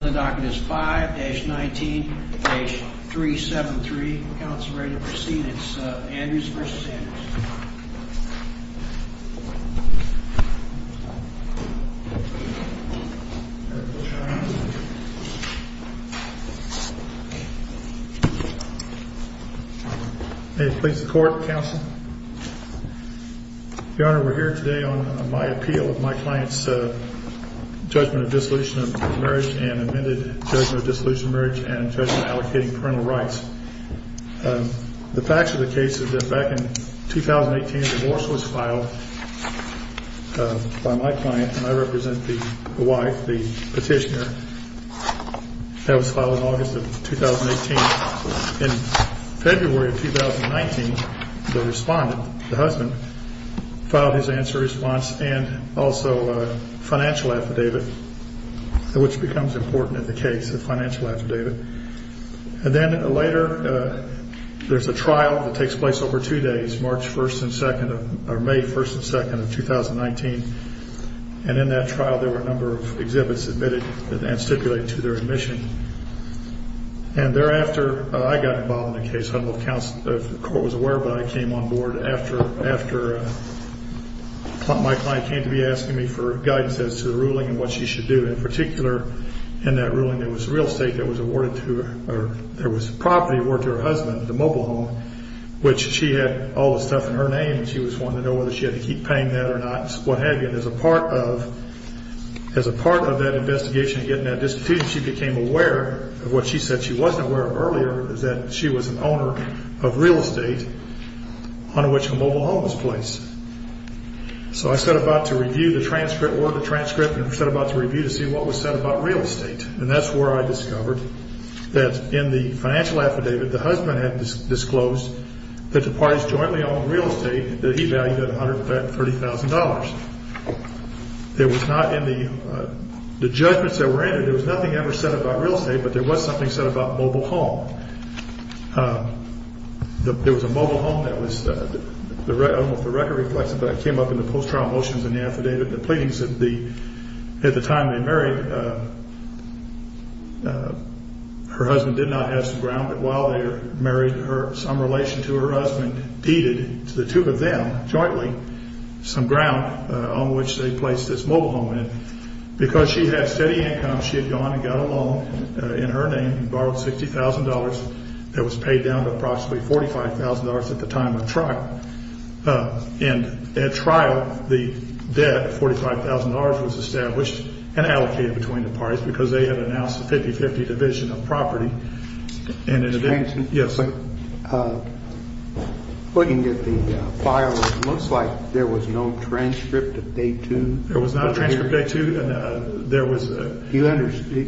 The docket is 5-19, page 373. Council ready to proceed. It's Andrews v. Andrews. May it please the court, counsel. Your Honor, we're here today on my appeal of my client's judgment of dissolution of marriage and amended judgment of dissolution of marriage and judgment allocating parental rights. The facts of the case is that back in 2018 a divorce was filed by my client, and I represent the wife, the petitioner. That was filed in August of 2018. In February of 2019, the respondent, the husband, filed his answer response and also a financial affidavit, which becomes important in the case, a financial affidavit. And then later, there's a trial that takes place over two days, March 1st and 2nd or May 1st and 2nd of 2019. And in that trial, there were a number of exhibits submitted and stipulated to their admission. And thereafter, I got involved in the case. I don't know if the court was aware, but I came on board after my client came to be asking me for guidance as to the ruling and what she should do. In particular, in that ruling, there was property awarded to her husband, the mobile home, which she had all the stuff in her name, and she was wanting to know whether she had to keep paying that or not, what have you. And as a part of that investigation of getting that dissolution, she became aware of what she said she wasn't aware of earlier, that she was an owner of real estate on which the mobile home was placed. So I set about to review the transcript, order the transcript, and set about to review to see what was said about real estate. And that's where I discovered that in the financial affidavit, the husband had disclosed that the parties jointly owned real estate that he valued at $130,000. There was not in the judgments that were in it, there was nothing ever said about real estate, but there was something said about mobile home. There was a mobile home that was, I don't know if the record reflects it, but it came up in the post-trial motions in the affidavit. The pleadings at the time they married, her husband did not have some ground. But while they were married, some relation to her husband deeded to the two of them jointly some ground on which they placed this mobile home in. Because she had steady income, she had gone and got a loan in her name and borrowed $60,000 that was paid down to approximately $45,000 at the time of trial. And at trial, the debt of $45,000 was established and allocated between the parties because they had announced a 50-50 division of property. Mr. Hanson, looking at the file, it looks like there was no transcript of day two. There was not a transcript of day two.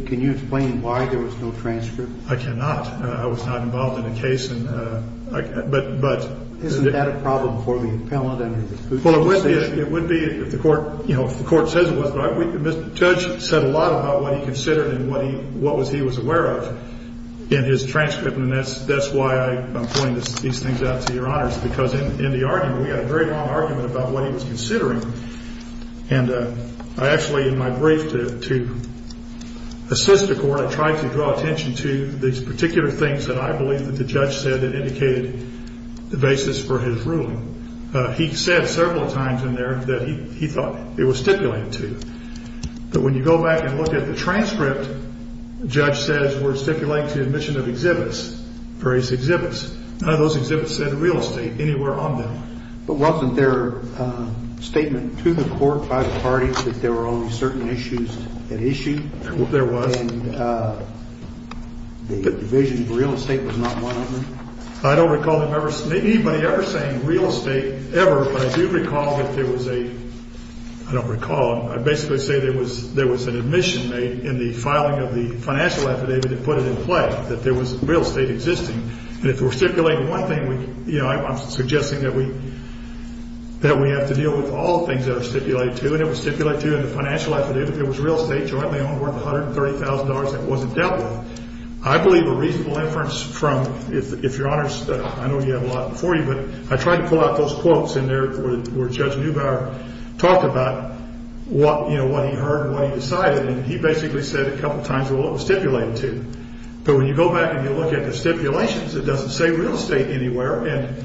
Can you explain why there was no transcript? I cannot. I was not involved in the case. Isn't that a problem for the appellant? Well, it would be if the court says it was. But the judge said a lot about what he considered and what he was aware of in his transcript. And that's why I'm pointing these things out to Your Honors, because in the argument, we had a very long argument about what he was considering. And I actually, in my brief to assist the court, I tried to draw attention to these particular things that I believe that the judge said that indicated the basis for his ruling. He said several times in there that he thought it was stipulated to. But when you go back and look at the transcript, the judge says we're stipulating to the admission of exhibits, various exhibits. None of those exhibits said real estate anywhere on them. But wasn't there a statement to the court by the parties that there were only certain issues at issue? There was. And the division of real estate was not one of them? I don't recall anybody ever saying real estate ever, but I do recall that there was a – I don't recall. I basically say there was an admission made in the filing of the financial affidavit that put it in play, that there was real estate existing. And if we're stipulating one thing, you know, I'm suggesting that we have to deal with all things that are stipulated to. And it was stipulated to in the financial affidavit it was real estate jointly owned worth $130,000 that wasn't dealt with. I believe a reasonable inference from – if Your Honors – I know you have a lot before you, but I tried to pull out those quotes in there where Judge Neubauer talked about what, you know, what he heard and what he decided. And he basically said a couple times, well, it was stipulated to. But when you go back and you look at the stipulations, it doesn't say real estate anywhere. And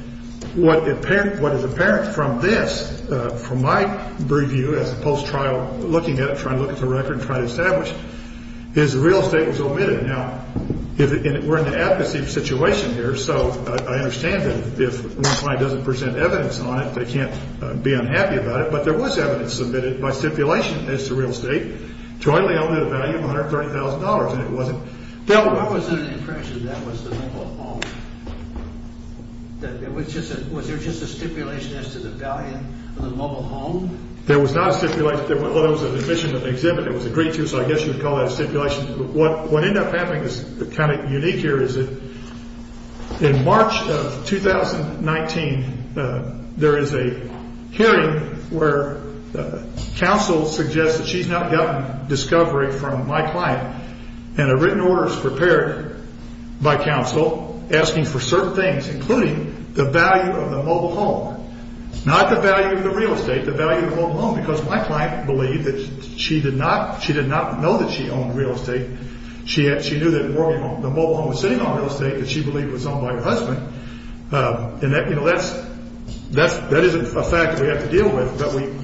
what is apparent from this, from my preview as a post-trial looking at it, trying to look at the record and try to establish, is real estate was omitted. Now, we're in the advocacy situation here, so I understand that if one client doesn't present evidence on it, they can't be unhappy about it. But there was evidence submitted by stipulation as to real estate jointly owned at a value of $130,000, and it wasn't dealt with. I was under the impression that was the mobile home. Was there just a stipulation as to the value of the mobile home? There was not a stipulation. Well, there was an admission of exhibit. It was agreed to, so I guess you would call that a stipulation. What ended up happening is kind of unique here is that in March of 2019, there is a hearing where counsel suggests that she's not gotten discovery from my client. And a written order is prepared by counsel asking for certain things, including the value of the mobile home. Not the value of the real estate, the value of the mobile home, because my client believed that she did not know that she owned real estate. She knew that the mobile home was sitting on real estate that she believed was owned by her husband. And that isn't a fact that we have to deal with,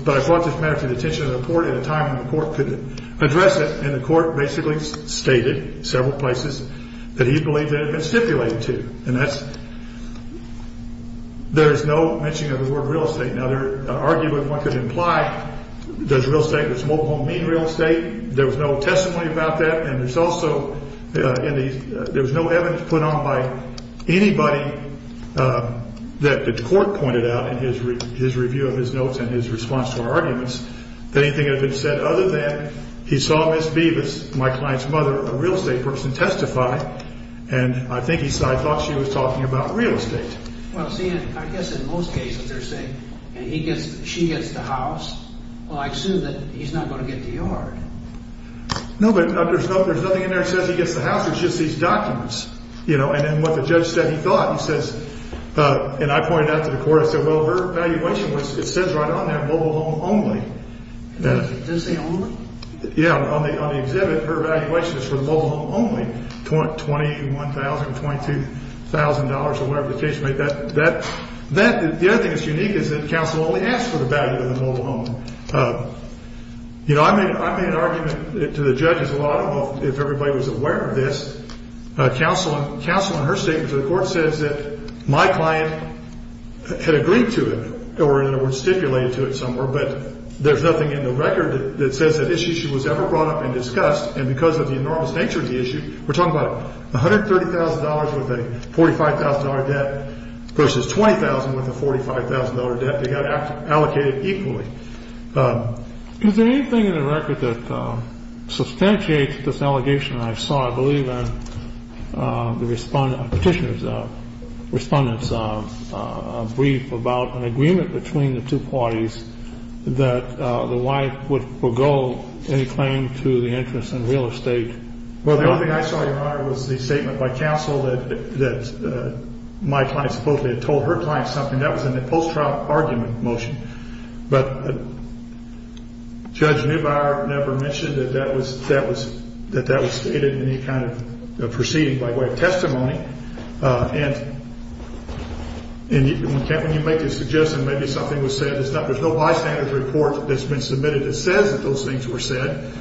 but I brought this matter to the attention of the court at a time when the court couldn't address it, and the court basically stated several places that he believed it had been stipulated to. And that's – there's no mentioning of the word real estate. Now, there are arguments one could imply. Does real estate – does mobile home mean real estate? There was no testimony about that, and there's also – there was no evidence put on by anybody that the court pointed out in his review of his notes and his response to our arguments that anything had been said other than he saw Miss Beavis, my client's mother, a real estate person, testify. And I think he said, I thought she was talking about real estate. Well, see, I guess in most cases they're saying he gets – she gets the house. Well, I assume that he's not going to get the yard. No, but there's nothing in there that says he gets the house. It's just these documents, you know, and then what the judge said he thought. He says – and I pointed that to the court. I said, well, her valuation was – it says right on there mobile home only. Does it say only? Yeah, on the exhibit, her valuation is for mobile home only, $21,000, $22,000 or whatever the case may be. That – the other thing that's unique is that counsel only asked for the value of the mobile home. You know, I made an argument to the judges a lot about if everybody was aware of this. Counsel in her statement to the court says that my client had agreed to it or, in other words, stipulated to it somewhere, but there's nothing in the record that says that this issue was ever brought up and discussed. And because of the enormous nature of the issue, we're talking about $130,000 with a $45,000 debt versus $20,000 with a $45,000 debt. They got allocated equally. Is there anything in the record that substantiates this allegation? I saw, I believe, in the Respondent – Petitioner's – Respondent's brief about an agreement between the two parties that the wife would forego any claim to the interest in real estate. Well, the only thing I saw, Your Honor, was the statement by counsel that my client supposedly had told her client something. That was in the post-trial argument motion. But Judge Neubauer never mentioned that that was stated in any kind of proceeding by way of testimony. And when you make this suggestion, maybe something was said. There's no bystander's report that's been submitted that says that those things were said.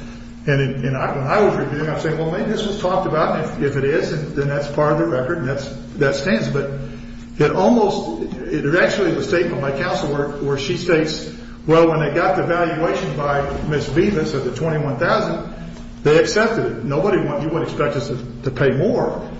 And when I was reviewing, I was saying, well, maybe this was talked about. And if it is, then that's part of the record and that stands. But it almost – there's actually a statement by counsel where she states, well, when they got the valuation by Ms. Vivas of the $21,000, they accepted it. Nobody – you wouldn't expect us to pay more.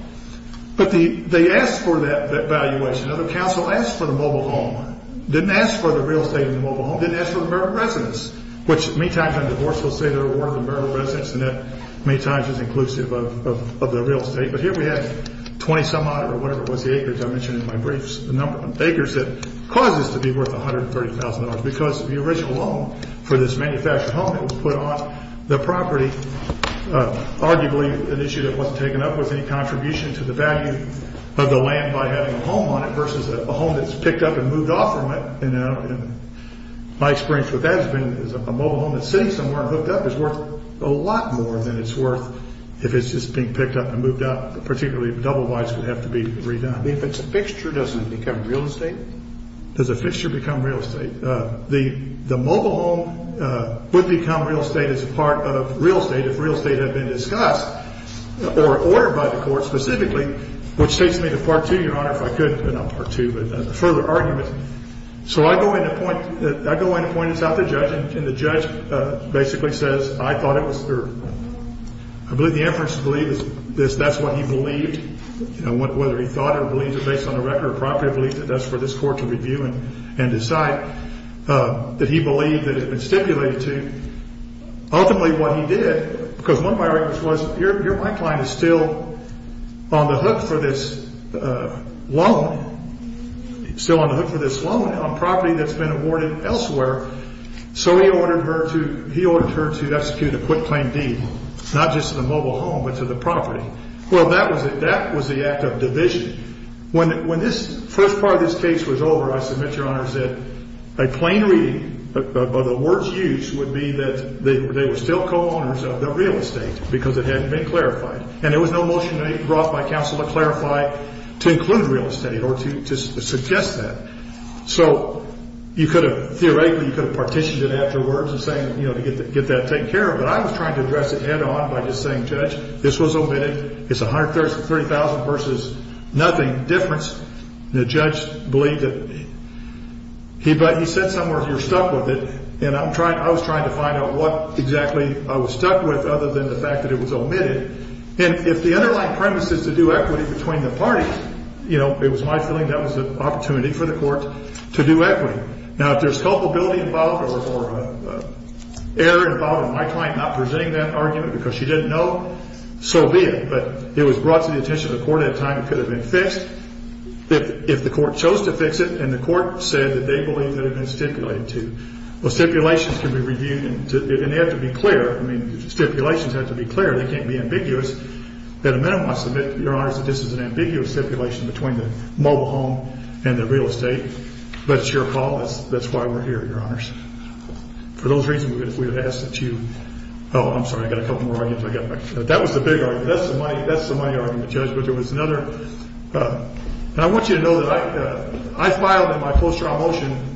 But they asked for that valuation. Now, the counsel asked for the mobile home. Didn't ask for the real estate and the mobile home. Didn't ask for the marital residence, which many times on divorce, we'll say they're awarded the marital residence and that many times is inclusive of the real estate. But here we have 20 some odd or whatever it was, the acres I mentioned in my briefs, the number of acres that caused this to be worth $130,000. Because the original loan for this manufactured home that was put on the property, arguably an issue that wasn't taken up with any contribution to the value of the land by having a home on it versus a home that's picked up and moved off from it. And my experience with that has been a mobile home that's sitting somewhere and hooked up is worth a lot more than it's worth if it's just being picked up and moved out. Particularly if double whites would have to be redone. If it's a fixture, does it become real estate? Does a fixture become real estate? The mobile home would become real estate as a part of real estate if real estate had been discussed or ordered by the court specifically, which takes me to Part 2, Your Honor, if I could. Not Part 2, but a further argument. So I go in and point this out to the judge, and the judge basically says, I thought it was fair. I believe the inference to believe is that's what he believed. Whether he thought or believed it based on the record of property, I believe that that's for this court to review and decide. That he believed that it had been stipulated to. Ultimately what he did, because one of my arguments was, your client is still on the hook for this loan. Still on the hook for this loan on property that's been awarded elsewhere. So he ordered her to execute a quick claim deed, not just to the mobile home, but to the property. Well, that was the act of division. When this first part of this case was over, I submit, Your Honor, that a plain reading of the words used would be that they were still co-owners of the real estate because it hadn't been clarified. And there was no motion brought by counsel to clarify to include real estate or to suggest that. So you could have, theoretically, you could have partitioned it afterwards and saying, you know, to get that taken care of. But I was trying to address it head on by just saying, Judge, this was omitted. It's $130,000 versus nothing difference. The judge believed that he said some words, you're stuck with it. And I was trying to find out what exactly I was stuck with other than the fact that it was omitted. And if the underlying premise is to do equity between the parties, you know, it was my feeling that was an opportunity for the court to do equity. Now, if there's culpability involved or error involved in my client not presenting that argument because she didn't know, so be it. But it was brought to the attention of the court at a time it could have been fixed if the court chose to fix it and the court said that they believed it had been stipulated to. Well, stipulations can be reviewed, and they have to be clear. I mean, stipulations have to be clear. They can't be ambiguous. At a minimum, I submit, Your Honors, that this is an ambiguous stipulation between the mobile home and the real estate. But it's your call. That's why we're here, Your Honors. For those reasons, we would ask that you – oh, I'm sorry. I've got a couple more arguments. That was the big argument. That's the money argument, Judge. And I want you to know that I filed in my close trial motion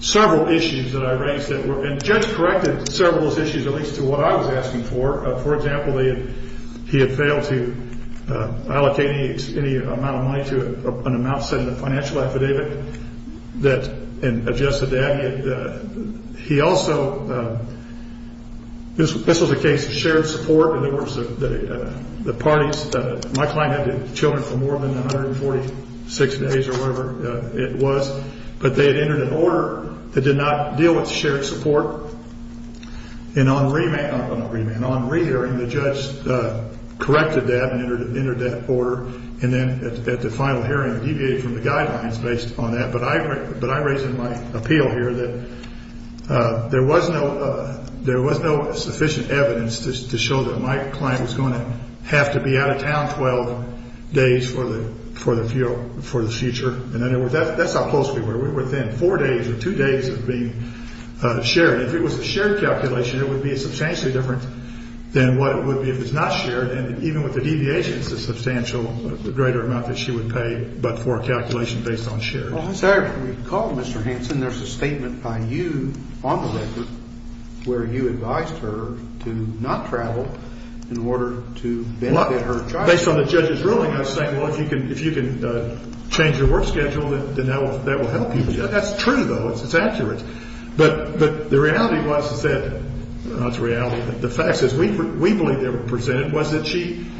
several issues that I raised and Judge corrected several of those issues, at least to what I was asking for. For example, he had failed to allocate any amount of money to an amount set in a financial affidavit and adjusted that. He also – this was a case of shared support, and there was the parties. My client had children for more than 146 days or whatever it was, but they had entered an order that did not deal with shared support. And on re-hearing, the judge corrected that and entered that order, and then at the final hearing deviated from the guidelines based on that. But I raised in my appeal here that there was no sufficient evidence to show that my client was going to have to be out of town 12 days for the future. That's how close we were. We were within four days or two days of being shared. If it was a shared calculation, it would be substantially different than what it would be if it's not shared. And even with the deviation, it's a substantial greater amount that she would pay, but for a calculation based on shared. Well, as I recall, Mr. Hanson, there's a statement by you on the record where you advised her to not travel in order to benefit her child. Based on the judge's ruling, I was saying, well, if you can change your work schedule, then that will help you. That's true, though. It's accurate. But the reality was that – not the reality, but the facts is we believe they were presented –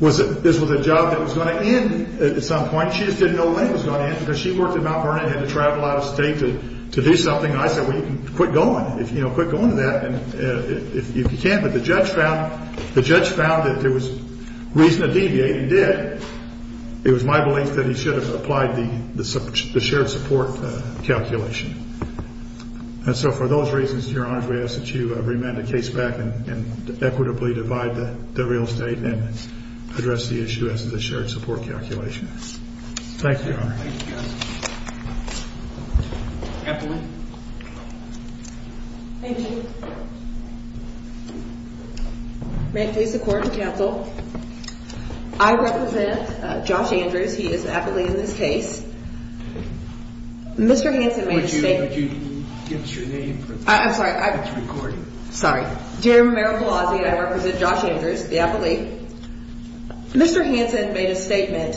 this was a job that was going to end at some point. She just didn't know when it was going to end because she worked in Mount Vernon and had to travel out of state to do something. And I said, well, you can quit going, you know, quit going to that if you can. But the judge found that there was reason to deviate and did. It was my belief that he should have applied the shared support calculation. And so for those reasons, Your Honors, we ask that you remand the case back and equitably divide the real estate. And then address the issue as to the shared support calculation. Thank you, Your Honor. Thank you, Justice. Appellee. Thank you. May it please the Court and Counsel. I represent Josh Andrews. He is an appellee in this case. Mr. Hanson made a statement. Would you give us your name? I'm sorry. It's recording. Sorry. Jim Merrill-Palazzi. I represent Josh Andrews, the appellee. Mr. Hanson made a statement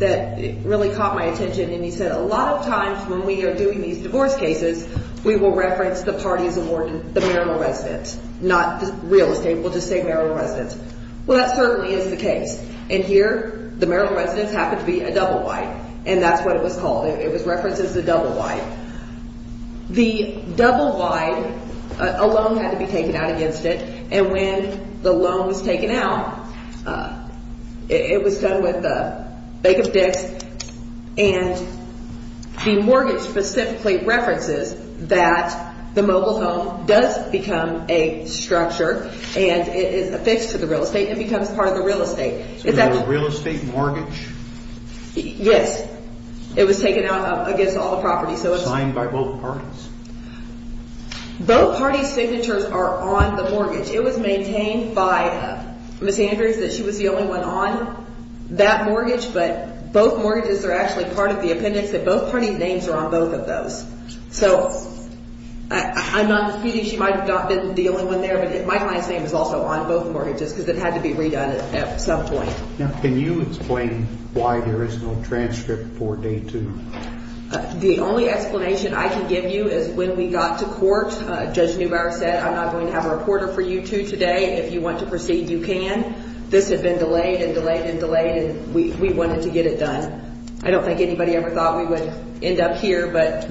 that really caught my attention. And he said a lot of times when we are doing these divorce cases, we will reference the parties awarded the Merrill residence, not the real estate. We'll just say Merrill residence. Well, that certainly is the case. And here the Merrill residence happened to be a double wide. And that's what it was called. It was referenced as a double wide. The double wide, a loan had to be taken out against it. And when the loan was taken out, it was done with the bake of dicks. And the mortgage specifically references that the mobile home does become a structure and it is affixed to the real estate and it becomes part of the real estate. So it was a real estate mortgage? Yes. It was taken out against all the properties. Signed by both parties? Both parties' signatures are on the mortgage. It was maintained by Ms. Andrews that she was the only one on that mortgage. But both mortgages are actually part of the appendix. And both parties' names are on both of those. So I'm not disputing she might have not been the only one there. But my client's name is also on both mortgages because it had to be redone at some point. Now can you explain why there is no transcript for day two? The only explanation I can give you is when we got to court, Judge Neubauer said, I'm not going to have a reporter for you two today. If you want to proceed, you can. This had been delayed and delayed and delayed, and we wanted to get it done. I don't think anybody ever thought we would end up here, but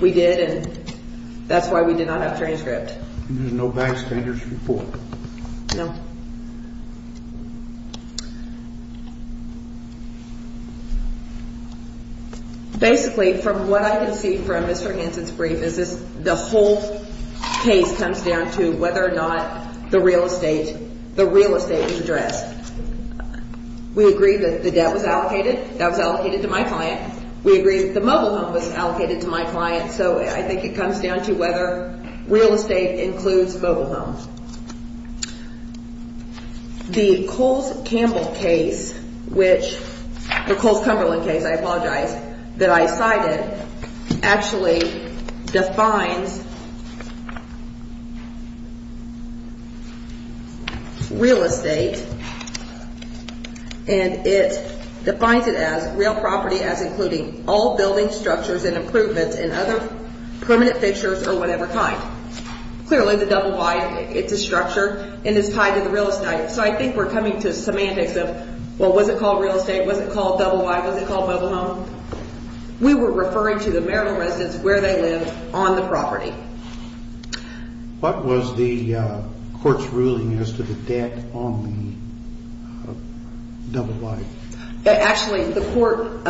we did, and that's why we did not have transcript. And there's no backstanders report? No. Okay. Basically, from what I can see from Mr. Hansen's brief is the whole case comes down to whether or not the real estate is addressed. We agree that the debt was allocated. Debt was allocated to my client. We agree that the mobile home was allocated to my client. So I think it comes down to whether real estate includes mobile homes. The Coles-Campbell case, which the Coles-Cumberland case, I apologize, that I cited actually defines real estate, and it defines it as real property as including all building structures and improvements and other permanent fixtures or whatever kind. Clearly, the double Y, it's a structure, and it's tied to the real estate. So I think we're coming to semantics of, well, was it called real estate? Was it called double Y? Was it called mobile home? We were referring to the marital residence where they lived on the property. What was the court's ruling as to the debt on the double Y? Actually, the court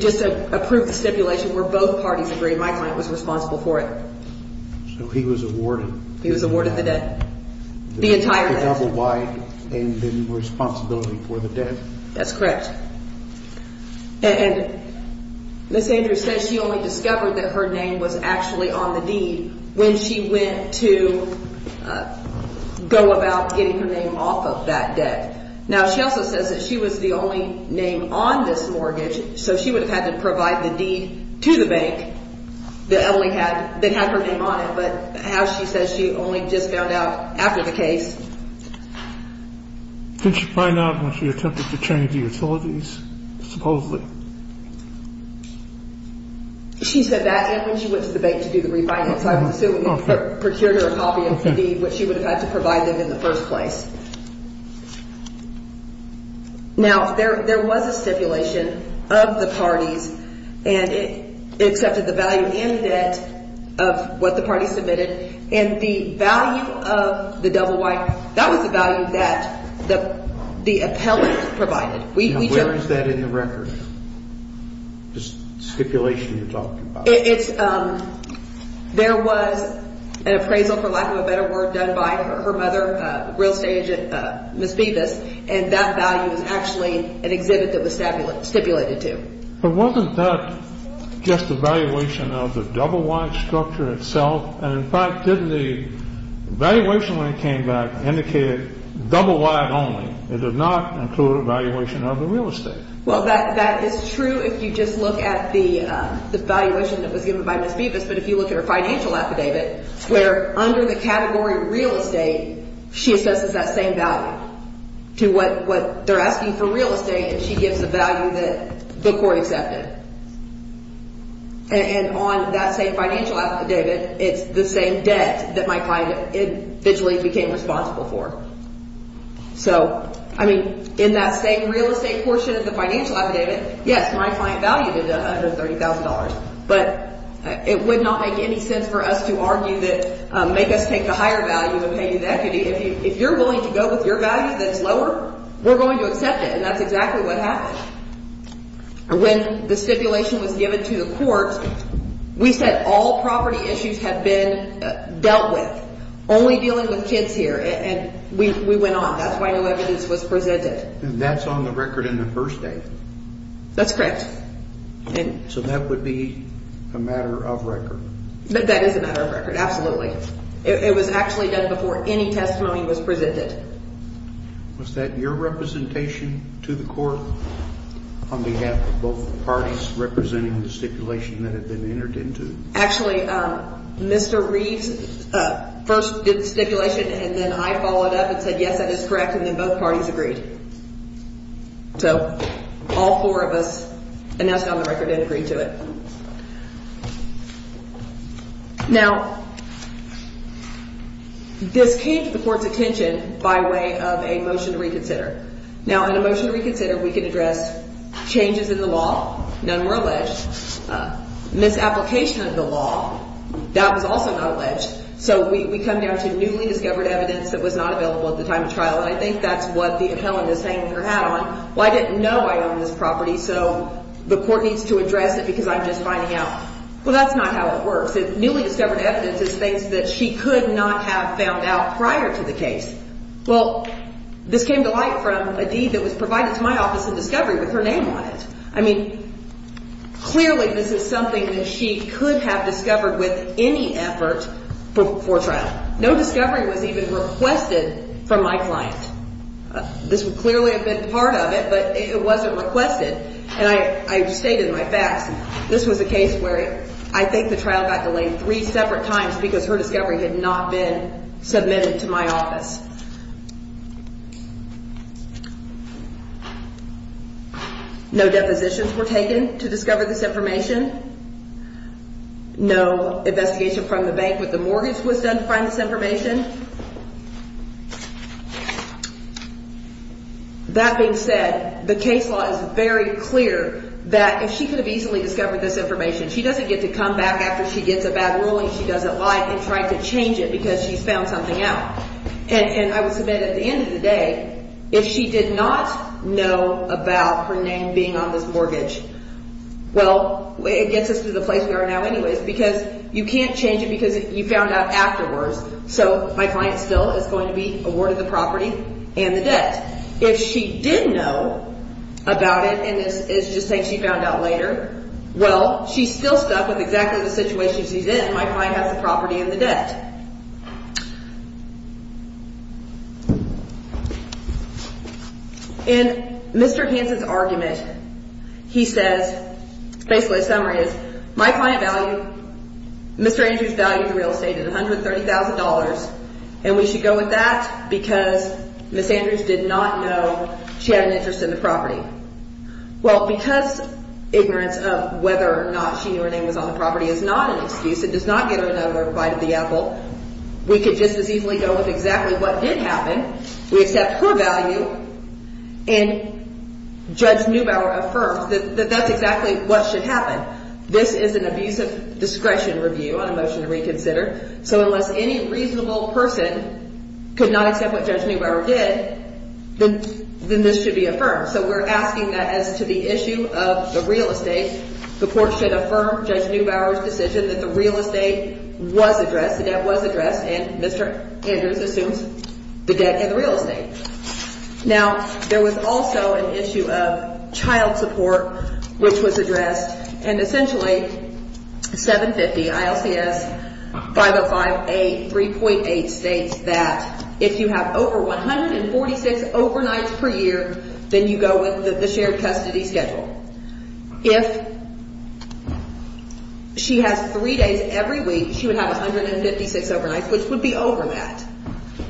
just approved the stipulation where both parties agreed my client was responsible for it. So he was awarded. He was awarded the debt, the entire debt. The double Y and then responsibility for the debt. That's correct. And Ms. Andrews says she only discovered that her name was actually on the deed when she went to go about getting her name off of that debt. Now, she also says that she was the only name on this mortgage, so she would have had to provide the deed to the bank that had her name on it, but how she says she only just found out after the case. Didn't she find out when she attempted to change the utilities, supposedly? She said that when she went to the bank to do the refinance. I would assume when you procured her a copy of the deed, which she would have had to provide them in the first place. Now, there was a stipulation of the parties, and it accepted the value in debt of what the parties submitted, and the value of the double Y, that was the value that the appellate provided. Now, where is that in the record, this stipulation you're talking about? There was an appraisal, for lack of a better word, done by her mother, real estate agent Ms. Bevis, and that value was actually an exhibit that was stipulated to. But wasn't that just a valuation of the double Y structure itself? And, in fact, didn't the valuation when it came back indicate double Y only? It did not include a valuation of the real estate. Well, that is true if you just look at the valuation that was given by Ms. Bevis, but if you look at her financial affidavit, where under the category real estate, she assesses that same value to what they're asking for real estate, and she gives the value that the court accepted. And on that same financial affidavit, it's the same debt that my client eventually became responsible for. So, I mean, in that same real estate portion of the financial affidavit, yes, my client valued it at $130,000, but it would not make any sense for us to argue that, make us take the higher value and pay you the equity. If you're willing to go with your value that's lower, we're going to accept it, and that's exactly what happened. When the stipulation was given to the court, we said all property issues had been dealt with, only dealing with kids here, and we went on. That's why no evidence was presented. And that's on the record in the first day? That's correct. So that would be a matter of record? That is a matter of record, absolutely. It was actually done before any testimony was presented. Was that your representation to the court on behalf of both parties representing the stipulation that had been entered into? Actually, Mr. Reeves first did the stipulation, and then I followed up and said, yes, that is correct, and then both parties agreed. So all four of us announced it on the record and agreed to it. Now, this came to the court's attention by way of a motion to reconsider. Now, in a motion to reconsider, we can address changes in the law, none were alleged, misapplication of the law, that was also not alleged. So we come down to newly discovered evidence that was not available at the time of trial, and I think that's what the appellant is hanging her hat on. Well, I didn't know I owned this property, so the court needs to address it because I'm just finding out. Well, that's not how it works. Newly discovered evidence is things that she could not have found out prior to the case. Well, this came to light from a deed that was provided to my office in discovery with her name on it. I mean, clearly this is something that she could have discovered with any effort before trial. No discovery was even requested from my client. This would clearly have been part of it, but it wasn't requested. And I've stated my facts. This was a case where I think the trial got delayed three separate times because her discovery had not been submitted to my office. No depositions were taken to discover this information. No investigation from the bank with the mortgage was done to find this information. That being said, the case law is very clear that if she could have easily discovered this information, she doesn't get to come back after she gets a bad ruling. She doesn't lie and try to change it because she's found something out. And I would submit at the end of the day, if she did not know about her name being on this mortgage, well, it gets us to the place we are now anyways because you can't change it because you found out afterwards. So my client still is going to be awarded the property and the debt. If she did know about it and it's just something she found out later, well, she's still stuck with exactly the situation she's in. My client has the property and the debt. In Mr. Hansen's argument, he says, basically the summary is, my client valued, Mr. Andrews valued the real estate at $130,000 and we should go with that because Ms. Andrews did not know she had an interest in the property. Well, because ignorance of whether or not she knew her name was on the property is not an excuse, it does not get her another bite of the apple, we could just as easily go with exactly what did happen. We accept her value and Judge Neubauer affirms that that's exactly what should happen. This is an abusive discretion review on a motion to reconsider, so unless any reasonable person could not accept what Judge Neubauer did, then this should be affirmed. So we're asking that as to the issue of the real estate, the court should affirm Judge Neubauer's decision that the real estate was addressed, the debt was addressed, and Mr. Andrews assumes the debt and the real estate. Now, there was also an issue of child support which was addressed and essentially 750, ILCS 5058, 3.8 states that if you have over 146 overnights per year, then you go with the shared custody schedule. If she has three days every week, she would have 156 overnights which would be over that,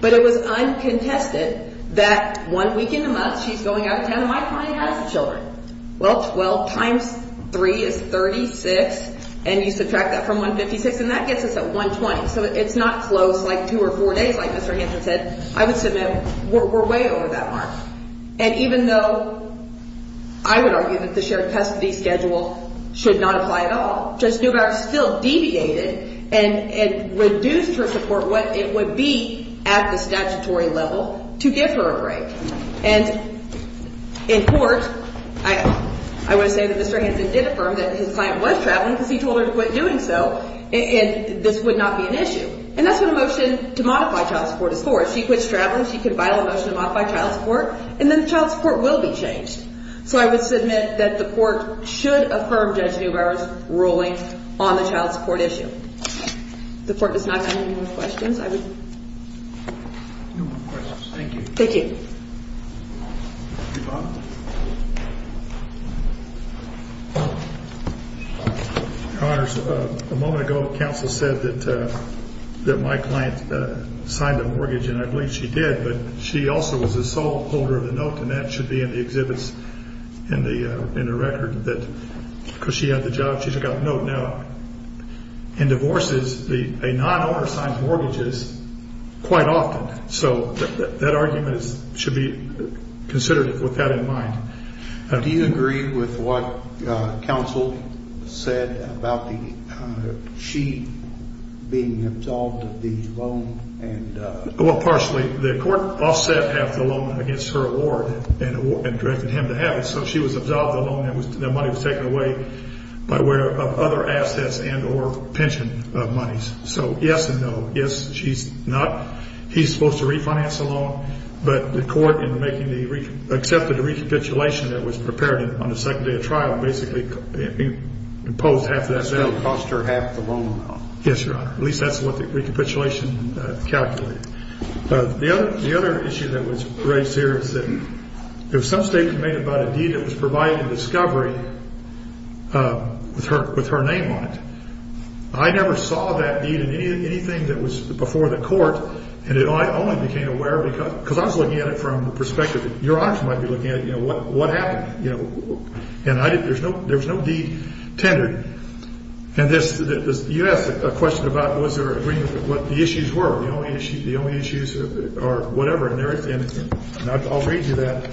but it was uncontested that one weekend a month she's going out of town, Well, 12 times 3 is 36, and you subtract that from 156, and that gets us at 120, so it's not close like two or four days like Mr. Andrews said. I would submit we're way over that mark, and even though I would argue that the shared custody schedule should not apply at all, Judge Neubauer still deviated and reduced her support what it would be at the statutory level to give her a break, and in court, I would say that Mr. Hanson did affirm that his client was traveling because he told her to quit doing so, and this would not be an issue, and that's what a motion to modify child support is for. If she quits traveling, she could file a motion to modify child support, and then child support will be changed, so I would submit that the court should affirm Judge Neubauer's ruling on the child support issue. If the court does not have any more questions, I would. No more questions. Thank you. Thank you. Your Honors, a moment ago, counsel said that my client signed a mortgage, and I believe she did, but she also was the sole holder of the note, and that should be in the exhibits in the record, because she had the job. She's got the note now. In divorces, a non-owner signs mortgages quite often, so that argument should be considered with that in mind. Do you agree with what counsel said about she being absolved of the loan? Well, partially. The court offset half the loan against her award and directed him to have it, so she was absolved of the loan. The money was taken away by way of other assets and or pension monies. So yes and no. Yes, she's not. He's supposed to refinance the loan, but the court accepted the recapitulation that was prepared on the second day of trial and basically imposed half of that. That still cost her half the loan amount. Yes, Your Honor. At least that's what the recapitulation calculated. The other issue that was raised here is that if some statement was made about a deed that was provided in discovery with her name on it, I never saw that deed in anything that was before the court, and I only became aware of it because I was looking at it from the perspective that Your Honors might be looking at it, you know, what happened. And there was no deed tendered. And you asked a question about was there agreement with what the issues were. The only issues or whatever, and I'll read you that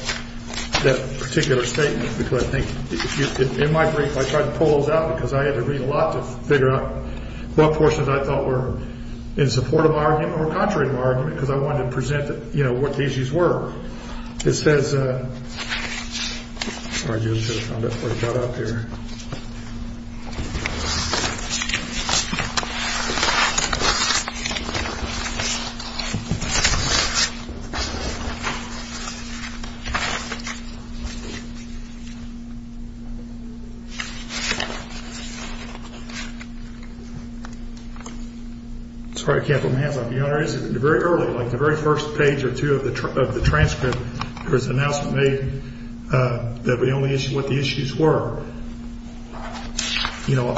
particular statement because I think in my brief I tried to pull those out because I had to read a lot to figure out what portions I thought were in support of my argument or contrary to my argument because I wanted to present, you know, what the issues were. It says... Sorry, I just found it before I got up here. Sorry I can't put my hands up. Very early, like the very first page or two of the transcript, there was an announcement made that the only issue, what the issues were. You know,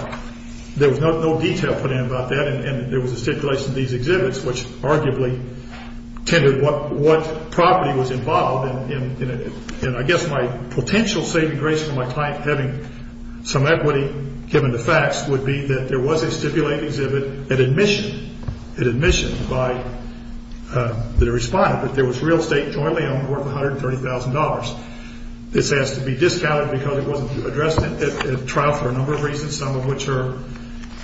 there was no detail put in about that, and there was a stipulation in these exhibits which arguably tended what property was involved, and I guess my potential saving grace for my client having some equity given the facts would be that there was a stipulated exhibit, an admission, an admission by the respondent that there was real estate jointly owned worth $130,000. This has to be discounted because it wasn't addressed at trial for a number of reasons, some of which are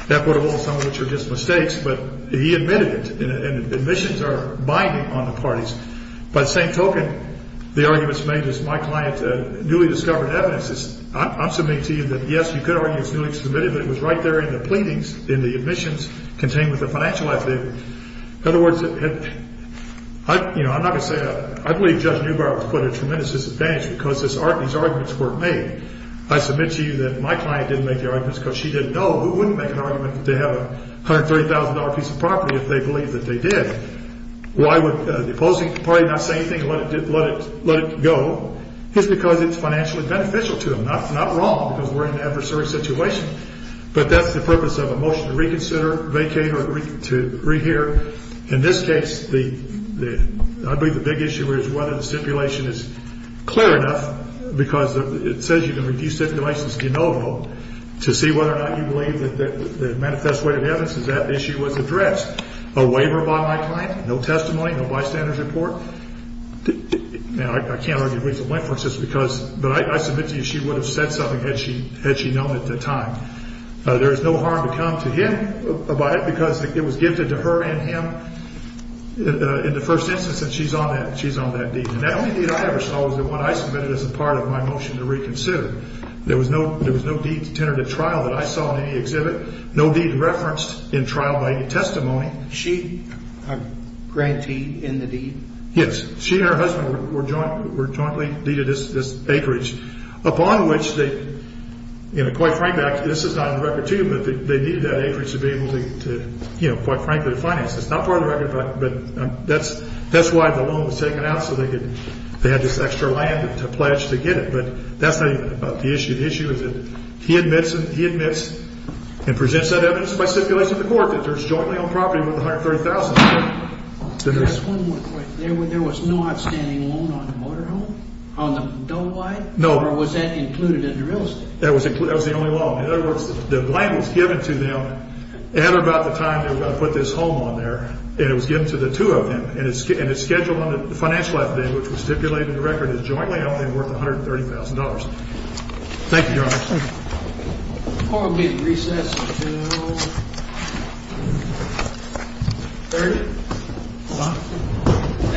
equitable and some of which are just mistakes, but he admitted it, and admissions are binding on the parties. By the same token, the arguments made is my client newly discovered evidence. I'm submitting to you that, yes, you could argue it's newly submitted, but it was right there in the pleadings in the admissions contained with the financial affidavit. In other words, you know, I'm not going to say I believe Judge Neubauer put a tremendous disadvantage because these arguments weren't made. I submit to you that my client didn't make the arguments because she didn't know. Who wouldn't make an argument that they have a $130,000 piece of property if they believe that they did? Why would the opposing party not say anything and let it go? It's because it's financially beneficial to them, not wrong because we're in an adversary situation, but that's the purpose of a motion to reconsider, vacate, or to rehear. In this case, I believe the big issue is whether the stipulation is clear enough because it says you can review stipulations de novo to see whether or not you believe that the manifest way of evidence is that the issue was addressed. A waiver by my client? No testimony? No bystanders report? I can't argue with the witnesses because, but I submit to you she would have said something had she known at the time. There is no harm to come to him about it because it was gifted to her and him in the first instance and she's on that deed. And that only deed I ever saw was the one I submitted as a part of my motion to reconsider. There was no deed to tentative trial that I saw in any exhibit. No deed referenced in trial by any testimony. She, a grantee in the deed? Yes. She and her husband were jointly deeded this acreage upon which they, you know, quite frankly, this is not on the record too, but they needed that acreage to be able to, you know, quite frankly, finance this. Not part of the record, but that's why the loan was taken out so they had this extra land to pledge to get it. But that's not even about the issue. There's jointly owned property worth $130,000. Just one more question. There was no outstanding loan on the motor home? On the double wide? No. Or was that included in the real estate? That was the only loan. In other words, the land was given to them at about the time they were going to put this home on there and it was given to the two of them and it's scheduled on the financial affidavit, which was stipulated in the record as jointly owned and worth $130,000. Thank you, Your Honor. Court will be recessed until 30. Thank you.